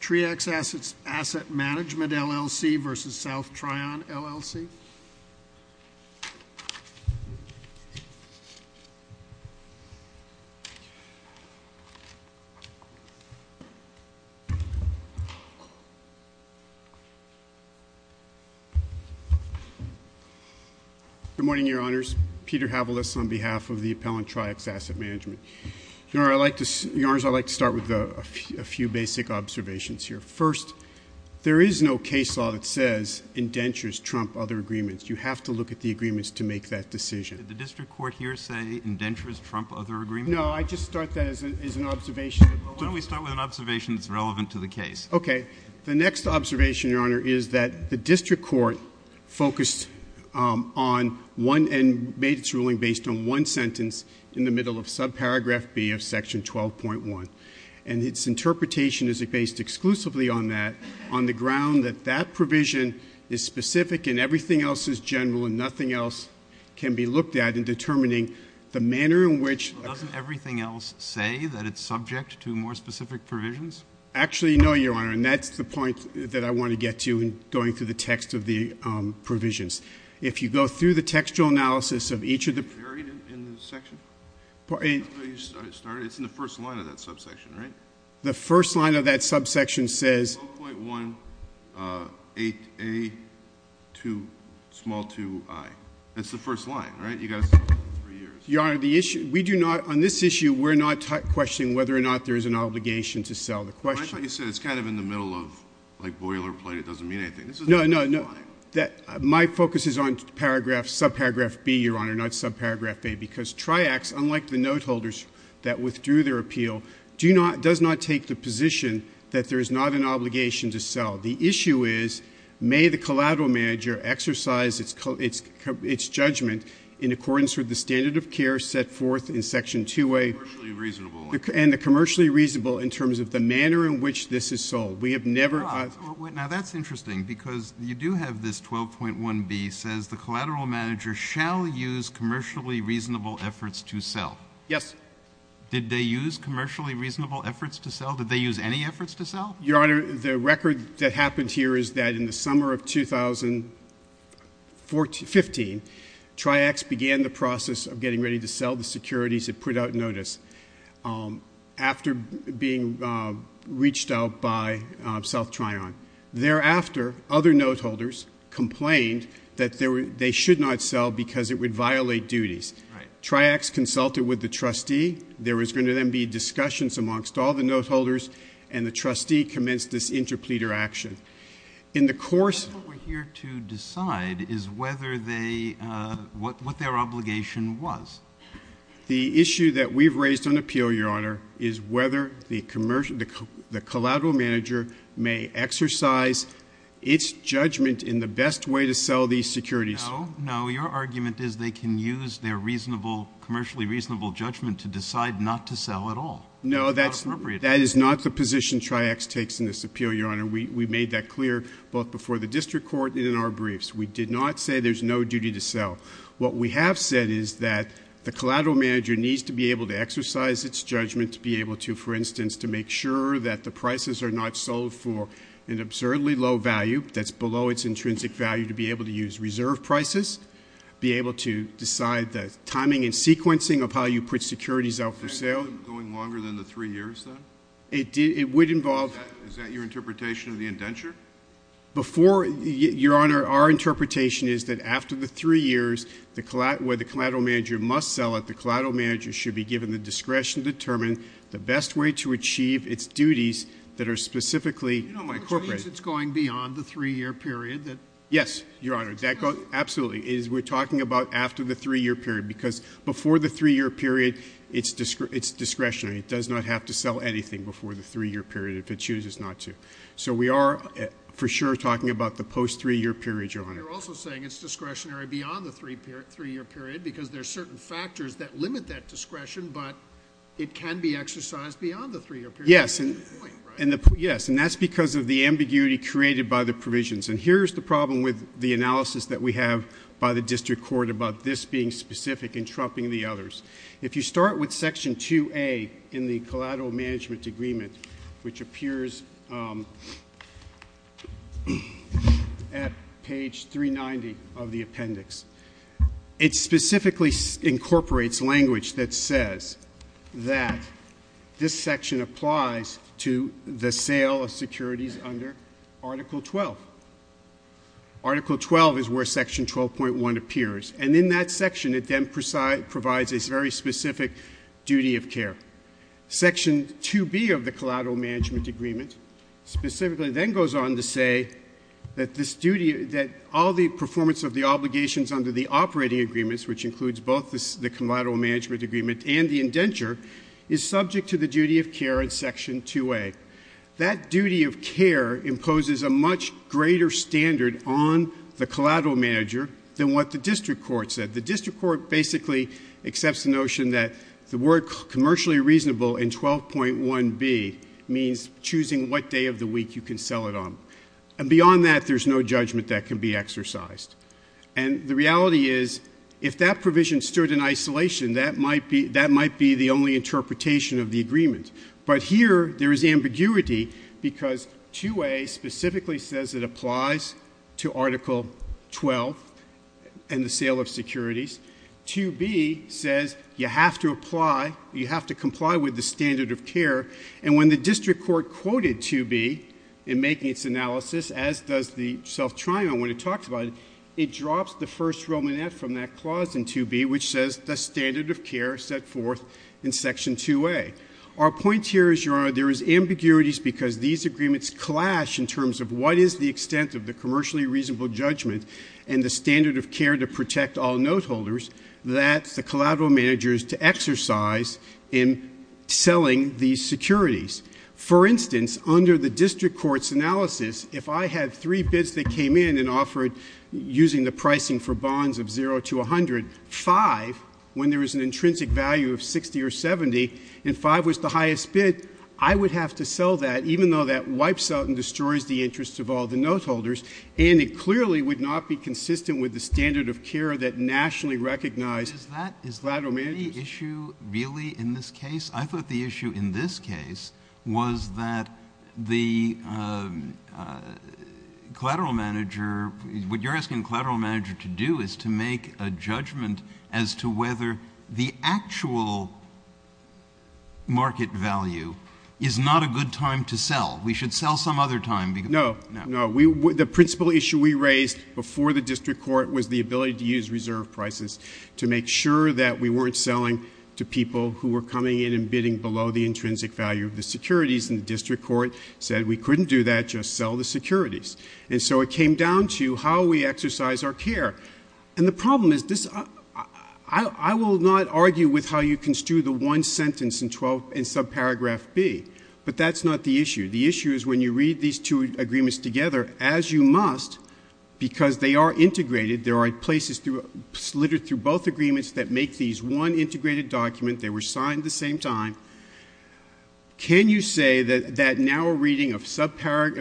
TREAX Asset Management, LLC versus South Trion, LLC. Good morning, Your Honors. Peter Havilis on behalf of the Appellant TREAX Asset Management. Your Honors, I'd like to start with a few basic observations here. First, there is no case law that says indentures trump other agreements. You have to look at the agreements to make that decision. Did the district court here say indentures trump other agreements? No, I just start that as an observation. Why don't we start with an observation that's relevant to the case? Okay. The next observation, Your Honor, is that the district court focused on one and made its ruling based on one sentence in the agreement based exclusively on that, on the ground that that provision is specific and everything else is general and nothing else can be looked at in determining the manner in which... Doesn't everything else say that it's subject to more specific provisions? Actually, no, Your Honor, and that's the point that I want to get to in going through the text of the provisions. If you go through the textual analysis of each of the... It's in the first line of that subsection, right? The first line of that subsection says... 12.18A2i. That's the first line, right? You've got to start with three years. Your Honor, on this issue, we're not questioning whether or not there is an obligation to sell the question. I thought you said it's kind of in the middle of like boilerplate. It doesn't mean anything. No, no, no. My focus is on paragraph, subparagraph B, Your Honor, not subparagraph A, because Triax, unlike the note holders that withdrew their appeal, does not take the position that there is not an obligation to sell. The issue is may the collateral manager exercise its judgment in accordance with the standard of care set forth in Section 2A and the commercially reasonable in terms of the manner in which this is sold. We have never... Now, that's interesting because you do have this 12.1B says the collateral manager shall use commercially reasonable efforts to sell. Yes. Did they use commercially reasonable efforts to sell? Did they use any efforts to sell? Your Honor, the record that happened here is that in the summer of 2015, Triax began the process of getting ready to sell the securities it put out notice after being reached out by South Trion. Thereafter, other note holders complained that they should not sell because it would violate duties. Triax consulted with the trustee. There was going to then be discussions amongst all the note holders, and the trustee commenced this interpleader action. In the course... What we're here to decide is whether they... what their obligation was. The issue that we've raised on appeal, Your Honor, is whether the collateral manager may exercise its judgment in the best way to sell these securities. No. No. Your argument is they can use their commercially reasonable judgment to decide not to sell at all. No. That is not the position Triax takes in this appeal, Your Honor. We made that clear both before the district court and in our briefs. We did not say there's no duty to The collateral manager needs to be able to exercise its judgment to be able to, for instance, to make sure that the prices are not sold for an absurdly low value that's below its intrinsic value to be able to use reserve prices, be able to decide the timing and sequencing of how you put securities out for sale... Is that going longer than the three years, then? It would involve... Is that your interpretation of the indenture? Before... Your Honor, our interpretation is that after the three years, where the collateral manager must sell it, the collateral manager should be given the discretion to determine the best way to achieve its duties that are specifically... Which means it's going beyond the three-year period that... Yes, Your Honor. Absolutely. We're talking about after the three-year period because before the three-year period, it's discretionary. It does not have to sell anything before the three-year period if it chooses not to. So we are, for sure, talking about the post-three-year period, Your Honor. But you're also saying it's discretionary beyond the three-year period because there are certain factors that limit that discretion, but it can be exercised beyond the three-year period. Yes. That's the point, right? Yes, and that's because of the ambiguity created by the provisions. Here's the problem with the analysis that we have by the district court about this being specific and trumping the others. If you start with Section 2A in the collateral management agreement, which is 390 of the appendix, it specifically incorporates language that says that this section applies to the sale of securities under Article 12. Article 12 is where Section 12.1 appears, and in that section, it then provides a very specific duty of care. Section 2B of the collateral management agreement specifically then goes on to say that all the performance of the obligations under the operating agreements, which includes both the collateral management agreement and the indenture, is subject to the duty of care in Section 2A. That duty of care imposes a much greater standard on the collateral manager than what the district court said. The district court basically accepts the notion that the word commercially reasonable in 12.1B means choosing what day of the week you can sell it on. And beyond that, there's no judgment that can be exercised. And the reality is, if that provision stood in isolation, that might be the only interpretation of the agreement. But here, there is ambiguity because 2A specifically says it applies to Article 12 and the sale of securities. 2B says you have to apply, you have to comply with the standard of care. And when the district court quoted 2B in making its analysis, as does the self-triumph, when it talks about it, it drops the first romanet from that clause in 2B, which says the standard of care set forth in Section 2A. Our point here is, Your Honor, there is ambiguities because these agreements clash in terms of what is the extent of the commercially reasonable judgment and the standard of care to protect all note holders, that's the collateral managers to exercise in selling these securities. For instance, under the district court's analysis, if I had three bids that came in and offered, using the pricing for bonds of zero to 100, five, when there is an intrinsic value of 60 or 70, and five was the highest bid, I would have to sell that, even though that wipes out and destroys the interests of all the consistent with the standard of care that nationally recognized collateral managers. Is that the issue really in this case? I thought the issue in this case was that the collateral manager, what you're asking the collateral manager to do is to make a judgment as to whether the actual market value is not a good time to sell. We should sell some other time. No. The principal issue we raised before the district court was the ability to use reserve prices to make sure that we weren't selling to people who were coming in and bidding below the intrinsic value of the securities. The district court said we couldn't do that, just sell the securities. It came down to how we exercise our care. The problem is, I will not argue with how you construe the one sentence in subparagraph B, but that's not the issue. The issue is when you read these two agreements together, as you must, because they are integrated, there are places littered through both agreements that make these one integrated document, they were signed the same time. Can you say that now a reading of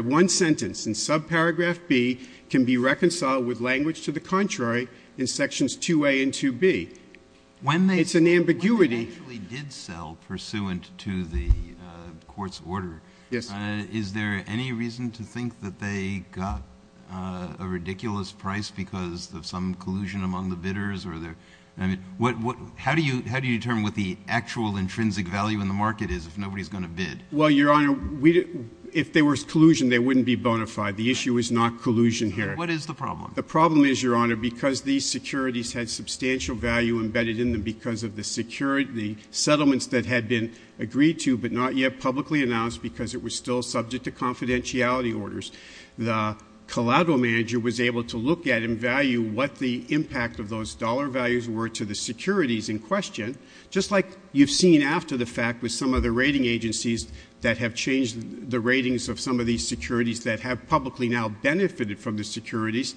one sentence in subparagraph B can be reconciled with language to the contrary in sections 2A and 2B? It's an ambiguity. When they actually did sell pursuant to the court's order, is there any reason to think that they got a ridiculous price because of some collusion among the bidders? How do you determine what the actual intrinsic value in the market is if nobody is going to bid? Your Honor, if there was collusion, they wouldn't be bona fide. The issue is not collusion here. What is the problem? The problem is, Your Honor, because these securities had substantial value embedded in them because of the settlements that had been agreed to but not yet publicly announced because it was still subject to confidentiality orders, the collateral manager was able to look at and value what the impact of those dollar values were to the securities in question. Just like you've seen after the fact with some of the rating agencies that have changed the ratings of some of these securities that have publicly now benefited from the securities,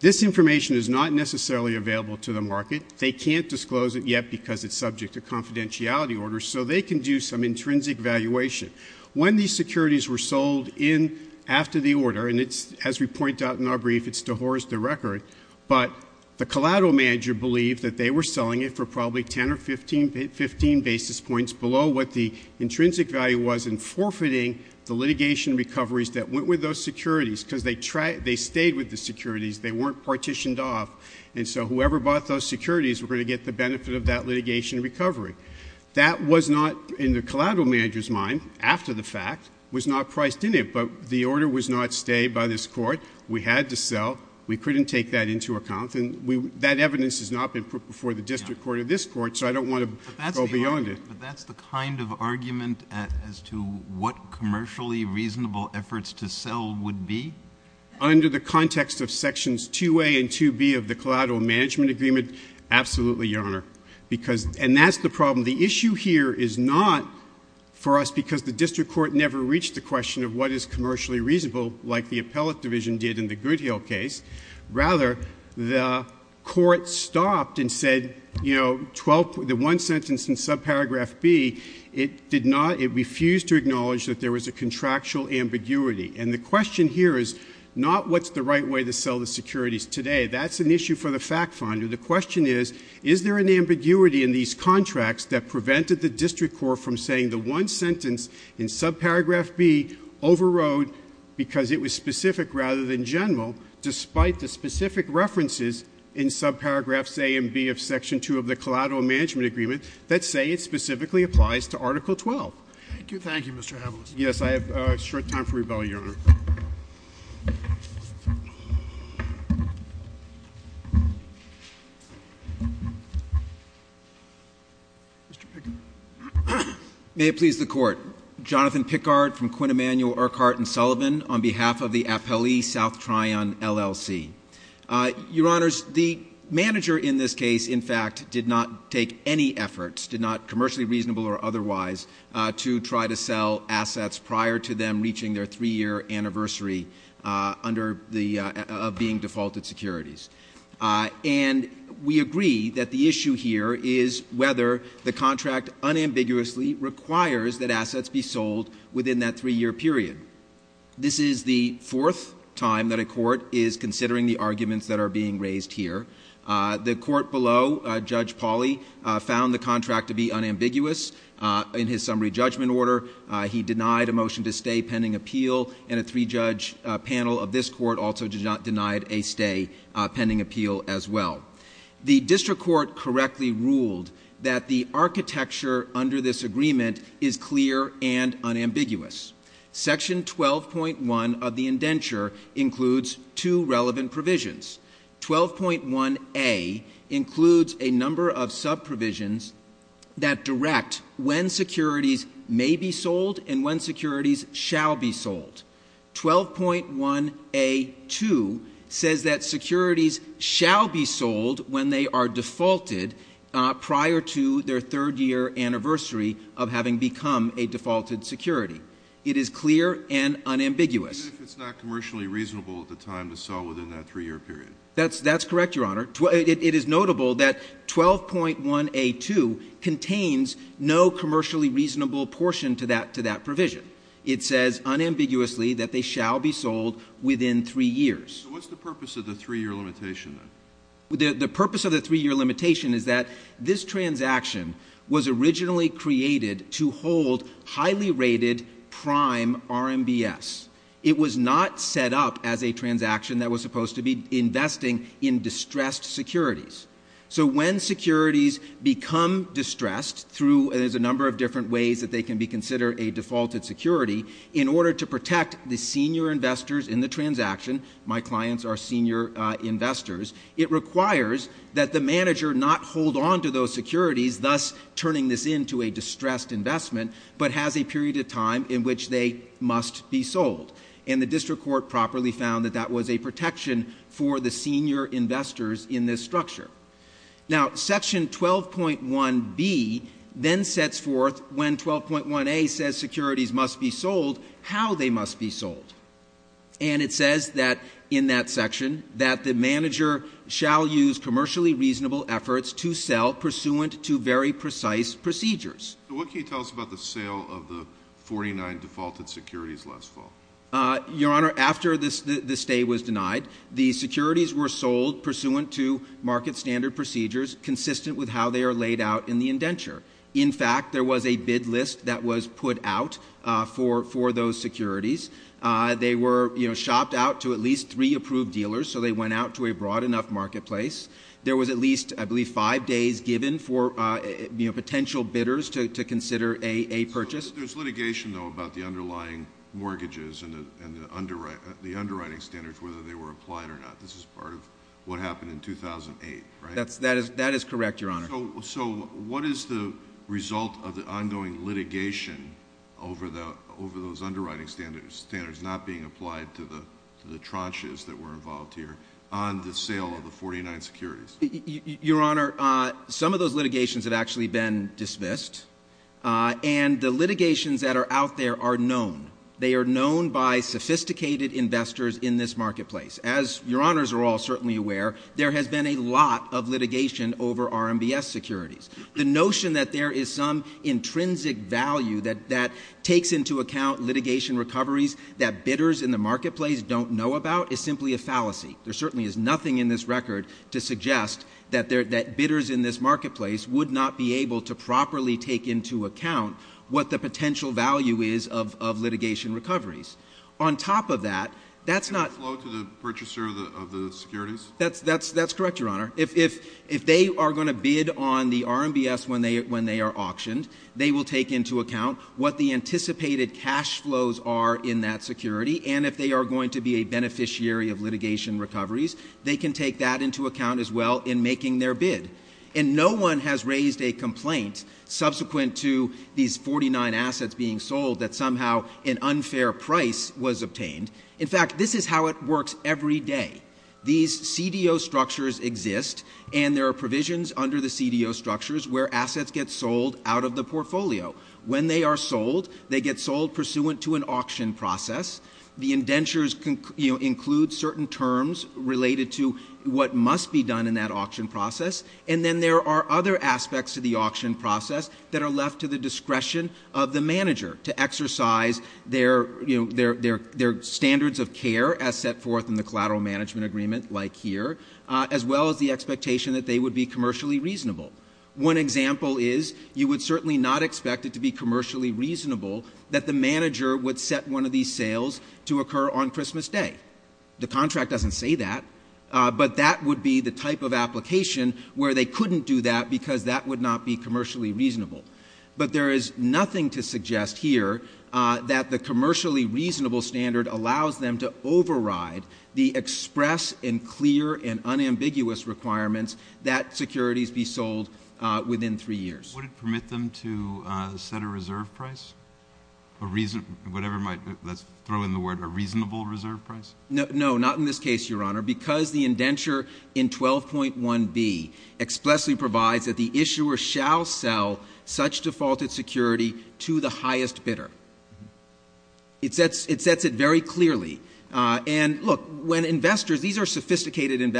this information is not necessarily available to the market. They can't disclose it yet because it's subject to confidentiality orders, so they can do some intrinsic valuation. When these securities were sold in after the order, and as we point out in our brief, it's to horse the record, but the collateral manager believed that they were selling it for probably 10 or 15 basis points below what the intrinsic value was in forfeiting the litigation recoveries that went with those securities because they stayed with the securities. They weren't partitioned off, and so whoever bought those securities were going to get the benefit of that litigation recovery. That was not, in the collateral manager's mind, after the fact, was not priced in it, but the order was not stayed by this Court. We had to sell. We couldn't take that into account, and that evidence has not been put before the district court or this Court, so I don't want to go beyond it. But that's the kind of argument as to what commercially reasonable efforts to sell would be? Under the context of sections 2A and 2B of the collateral management agreement, absolutely, Your Honor. And that's the problem. The issue here is not for us because the district court never reached the question of what is commercially reasonable like the appellate division did in the Good Hill case. Rather, the Court stopped and said, you know, the one sentence in subparagraph B, it did not... it refused to acknowledge that there was a contractual ambiguity. And the question here is not what's the right way to sell the securities today. That's an issue for the fact finder. The question is, is there an ambiguity in these contracts that prevented the district court from saying the one sentence in subparagraph B overrode because it was specific rather than general, despite the specific references in subparagraphs A and B of section 2 of the collateral management agreement that say it specifically applies to Article 12? Thank you. Thank you, Mr. Haviland. Yes. I have a short time for rebuttal, Your Honor. Mr. Pickard? May it please the Court. Jonathan Pickard from Quinn Emanuel, Urquhart & Sullivan, on behalf of the Appellee South Tryon LLC. Your Honors, the manager in this case, in fact, did not take any efforts, did not commercially reasonable or otherwise, to try to sell assets prior to them reaching their three-year anniversary under the... of being defaulted securities. And we agree that the issue here is whether the contract unambiguously requires that assets be sold within that three-year period. This is the fourth time that a court is considering the arguments that are being raised here. The court below, Judge Pauley, found the contract to be unambiguous in his summary judgment order. He denied a motion to stay pending appeal, and a three-judge panel of this court also denied a stay pending appeal as well. The district court correctly ruled that the architecture under this agreement is clear and unambiguous. Section 12.1 of the indenture includes two relevant provisions. 12.1a includes a number of sub-provisions that direct when securities may be sold and when securities shall be sold. 12.1a2 says that securities shall be sold when they are defaulted prior to their third-year anniversary of having become a defaulted security. It is clear and unambiguous. Even if it's not commercially reasonable at the time to sell within that three-year period? That's correct, Your Honor. It is notable that 12.1a2 contains no commercially reasonable portion to that provision. It says unambiguously that they shall be sold within three years. So what's the purpose of the three-year limitation then? The purpose of the three-year limitation is that this transaction was originally created to hold highly rated prime RMBS. It was not set up as a transaction that was supposed to be investing in distressed securities. So when securities become distressed through a number of different ways that they can be considered a defaulted security, in order to protect the senior investors in the transaction, my clients are senior investors, it requires that the manager not hold on to those securities, thus turning this into a distressed investment, but has a period of time in which they must be sold. And the district court properly found that that was a protection for the senior investors in this structure. Now section 12.1b then sets forth when 12.1a says securities must be sold, how they must be sold. And it says that in that section that the manager shall use commercially reasonable efforts to sell pursuant to very precise procedures. What can you tell us about the sale of the 49 defaulted securities last fall? Your Honor, after the stay was denied, the securities were sold pursuant to market standard procedures consistent with how they are laid out in the indenture. In fact, there was a bid list that was put out for those securities. They were shopped out to at least three approved dealers, so they went out to a broad enough marketplace. There was at least, I believe, five days given for potential bidders to consider a purchase. There's litigation, though, about the underlying mortgages and the underwriting standards, whether they were applied or not. This is part of what happened in 2008, right? That is correct, Your Honor. So what is the result of the ongoing litigation over those underwriting standards not being applied to the tranches that were involved here on the sale of the 49 securities? Your Honor, some of those litigations have actually been dismissed, and the litigations that are out there are known. They are known by sophisticated investors in this marketplace. As Your Honors are all certainly aware, there has been a lot of litigation over RMBS securities. The notion that there is some intrinsic value that takes into account litigation recoveries that bidders in the marketplace don't know about is simply a fallacy. There certainly is nothing in this record to suggest that bidders in this marketplace would not be able to properly take into account what the potential value is of litigation recoveries. On top of that, that's not— Can it flow to the purchaser of the securities? That's correct, Your Honor. If they are going to bid on the RMBS when they are auctioned, they will take into account what the anticipated cash flows are in that security, and if they are going to be a beneficiary of litigation recoveries, they can take that into account as well in making their bid. And no one has raised a complaint subsequent to these 49 assets being sold that somehow an unfair price was obtained. In fact, this is how it works every day. These CDO structures exist, and there are provisions under the CDO structures where assets get sold out of the portfolio. When they are sold, they get sold pursuant to an auction process. The indentures include certain terms related to what must be done in that auction process, and then there are other aspects of the auction process that are left to the discretion of the manager to exercise their standards of care as set forth in the collateral management agreement, like here, as well as the expectation that they would be commercially reasonable. One example is you would certainly not expect it to be commercially reasonable that the manager would set one of these sales to occur on Christmas Day. The contract doesn't say that, but that would be the type of application where they couldn't do that because that would not be commercially reasonable. But there is nothing to suggest here that the commercially reasonable standard allows them to override the express and clear and unambiguous requirements that securities be sold within three years. Would it permit them to set a reserve price? A reason, whatever might, let's throw in the word, a reasonable reserve price? No, not in this case, Your Honor, because the indenture in 12.1b expressly provides that the issuer shall sell such defaulted security to the highest bidder. It sets it very clearly. And look, when investors, these are sophisticated which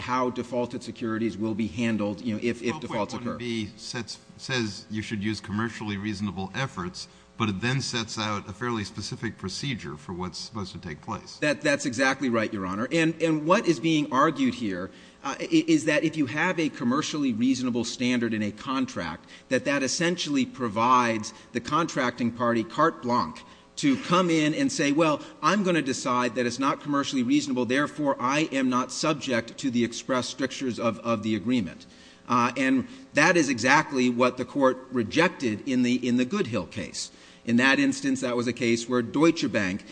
how defaulted securities will be handled, you know, if defaults occur. 12.1b says you should use commercially reasonable efforts, but it then sets out a fairly specific procedure for what's supposed to take place. That's exactly right, Your Honor. And what is being argued here is that if you have a commercially reasonable standard in a contract, that that essentially provides the contracting party carte blanche to come in and say, well, I'm going to decide that it's not commercially reasonable, therefore I am not subject to the express strictures of the agreement. And that is exactly what the Court rejected in the Goodhill case. In that instance, that was a case where Deutsche Bank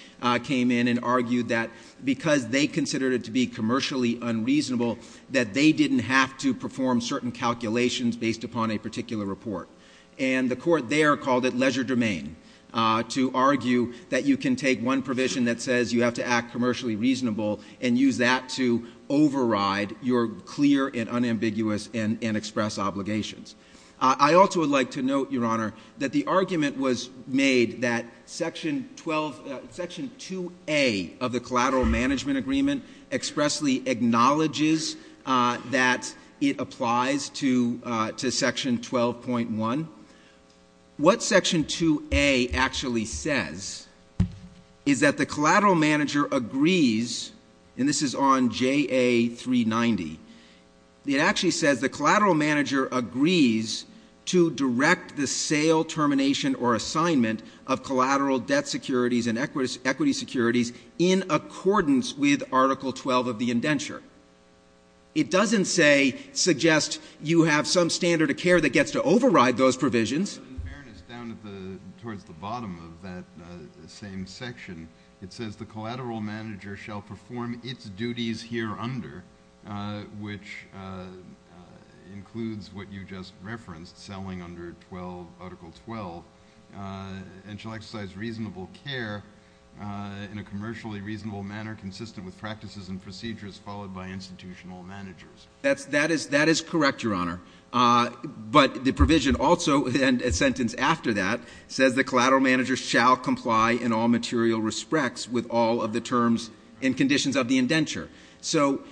came in and argued that because they considered it to be commercially unreasonable, that they didn't have to perform certain calculations based upon a particular report. And the Court there called it leisure domain to argue that you can take one provision that says you have to act commercially reasonable and use that to override your clear and unambiguous and express obligations. I also would like to note, Your Honor, that the argument was made that Section 12, Section 2A of the Collateral Management Agreement expressly acknowledges that it applies to Section 12.1. What Section 2A actually says is that the collateral manager agrees, and this is on JA 390, it actually says the collateral manager agrees to direct the sale, termination, or assignment of collateral debt securities and equity securities in accordance with Article 12 of the indenture. It doesn't say, suggest you have some standard of care that gets to override those provisions. In fairness, down towards the bottom of that same section, it says the collateral manager shall perform its duties here under, which includes what you just referenced, selling under Article 12, and shall exercise reasonable care in a commercially reasonable manner consistent with practices and procedures followed by institutional managers. That is correct, Your Honor. But the provision also, and a sentence after that, says the collateral manager shall comply in all material respects with all of the terms and conditions of the indenture. So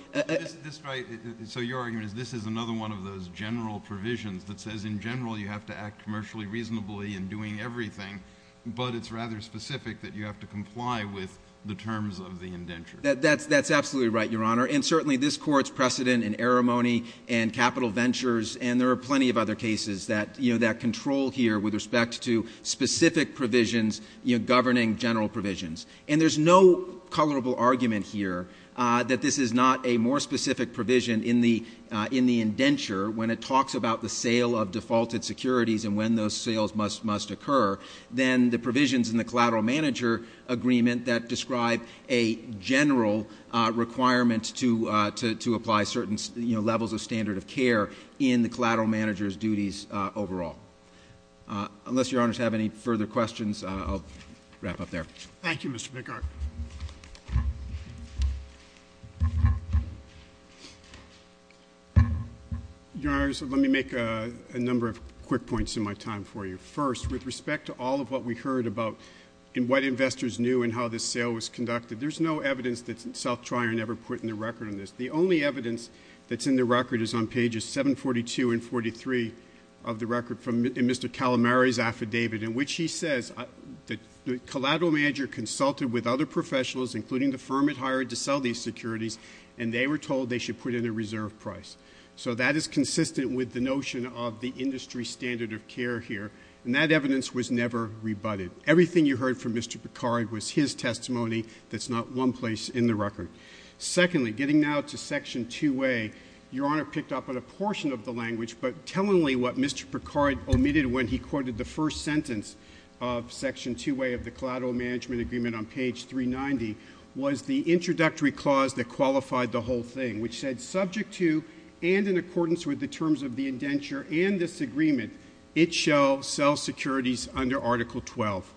your argument is this is another one of those general provisions that says in general you have to act commercially reasonably in doing everything, but it's rather specific that you have to comply with the terms of the indenture. That's absolutely right, Your Honor. And certainly this Court's precedent in eremony and capital ventures and there are plenty of other cases that control here with respect to specific provisions governing general provisions. And there's no colorable argument here that this is not a more specific provision in the indenture when it talks about the sale of defaulted securities and when those sales must occur than the provisions in the collateral manager agreement that describe a general requirement to apply certain levels of standard of care in the collateral manager's duties overall. Unless Your Honors have any further questions, I'll wrap up there. Thank you, Mr. McCarty. Your Honors, let me make a number of quick points in my time for you. First, with respect to all of what we heard about and what investors knew and how this sale was conducted, there's no evidence that Self Trial never put in the record on this. The only evidence that's in the record is on pages 742 and 743 of the record from Mr. Calamari's affidavit in which he says the collateral manager consulted with other professionals, including the firm it hired to sell these securities, and they were told they should put in a reserve price. So that is consistent with the notion of the industry standard of care here. And that evidence was never rebutted. Everything you heard from Mr. Picard was his testimony that's not one place in the record. Secondly, getting now to Section 2A, Your Honor picked up on a portion of the language, but tellingly what Mr. Picard omitted when he quoted the first sentence of Section 2A of the Collateral Management Agreement on page 390 was the introductory clause that qualified the whole thing, which said, subject to and in accordance with the terms of the indenture and this agreement, it shall sell securities under Article 12.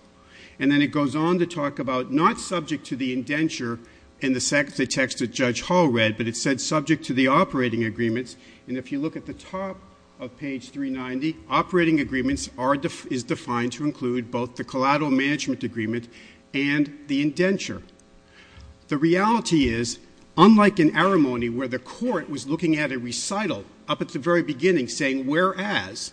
And then it goes on to talk about not subject to the indenture in the text that Judge Hall read, but it said subject to the operating agreements. And if you look at the top of page 390, operating agreements is defined to include both the Collateral Management Agreement and the indenture. The reality is, unlike in Arimony where the Court was looking at a recital up at the very beginning saying, whereas,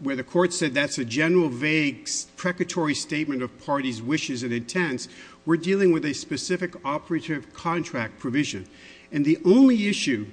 where the Court said that's a general, vague, precatory statement of parties' wishes and intents, we're dealing with a specific operative contract provision. And the only issue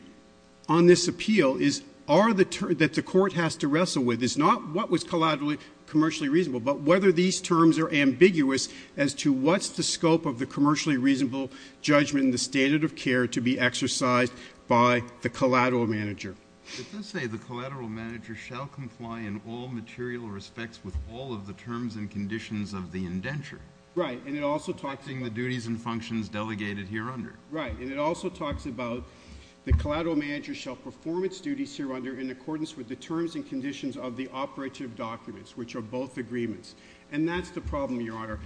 on this appeal is are the terms that the Court has to wrestle with is not what was collaterally, commercially reasonable, but whether these terms are ambiguous as to what's the scope of the commercially reasonable judgment and the standard of care to be exercised by the collateral manager. It does say the collateral manager shall comply in all material respects with all of the terms and conditions of the indenture. Right. And it also talks in the duties and functions delegated hereunder. Right. And it also talks about the collateral manager shall perform its duties hereunder in accordance with the terms and conditions of the operative documents, which are both agreements. And that's the problem, Your Honor.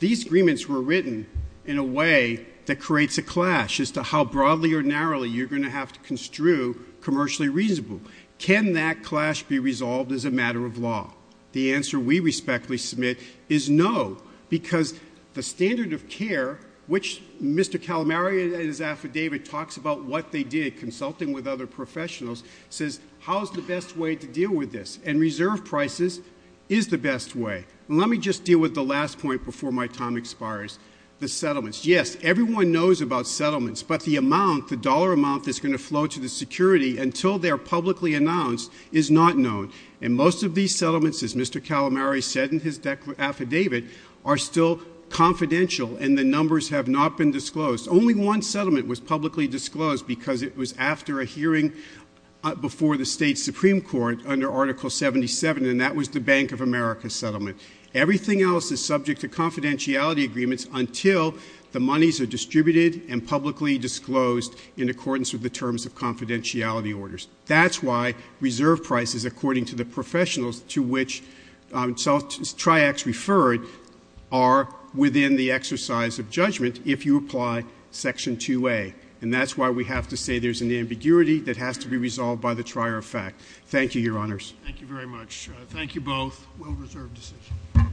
These agreements were written in a way that creates a clash as to how broadly or narrowly you're going to have to construe commercially reasonable. Can that clash be resolved as a matter of law? The answer we respectfully submit is no, because the standard of care, which Mr. Calamari in his affidavit talks about what they did, consulting with other professionals, says, how's the best way to deal with this? And reserve prices is the best way. Let me just deal with the last point before my time expires. The settlements. Yes, everyone knows about settlements, but the amount, the dollar amount that's going to flow to the security until they are publicly announced is not known. And most of these settlements, as Mr. Calamari said in his affidavit, are still confidential and the numbers have not been disclosed. Only one settlement was publicly disclosed because it was after a hearing before the state Supreme Court under Article 77, and that was the Bank of America settlement. Everything else is subject to confidentiality agreements until the monies are distributed and publicly disclosed in accordance with the terms of confidentiality orders. That's why reserve prices, according to the professionals to which Triax referred, are within the exercise of judgment if you apply Section 2A. And that's why we have to say there's an ambiguity that has to be resolved by the trier of fact. Thank you, Your Honors. Thank you very much. Thank you both. Well-reserved decision.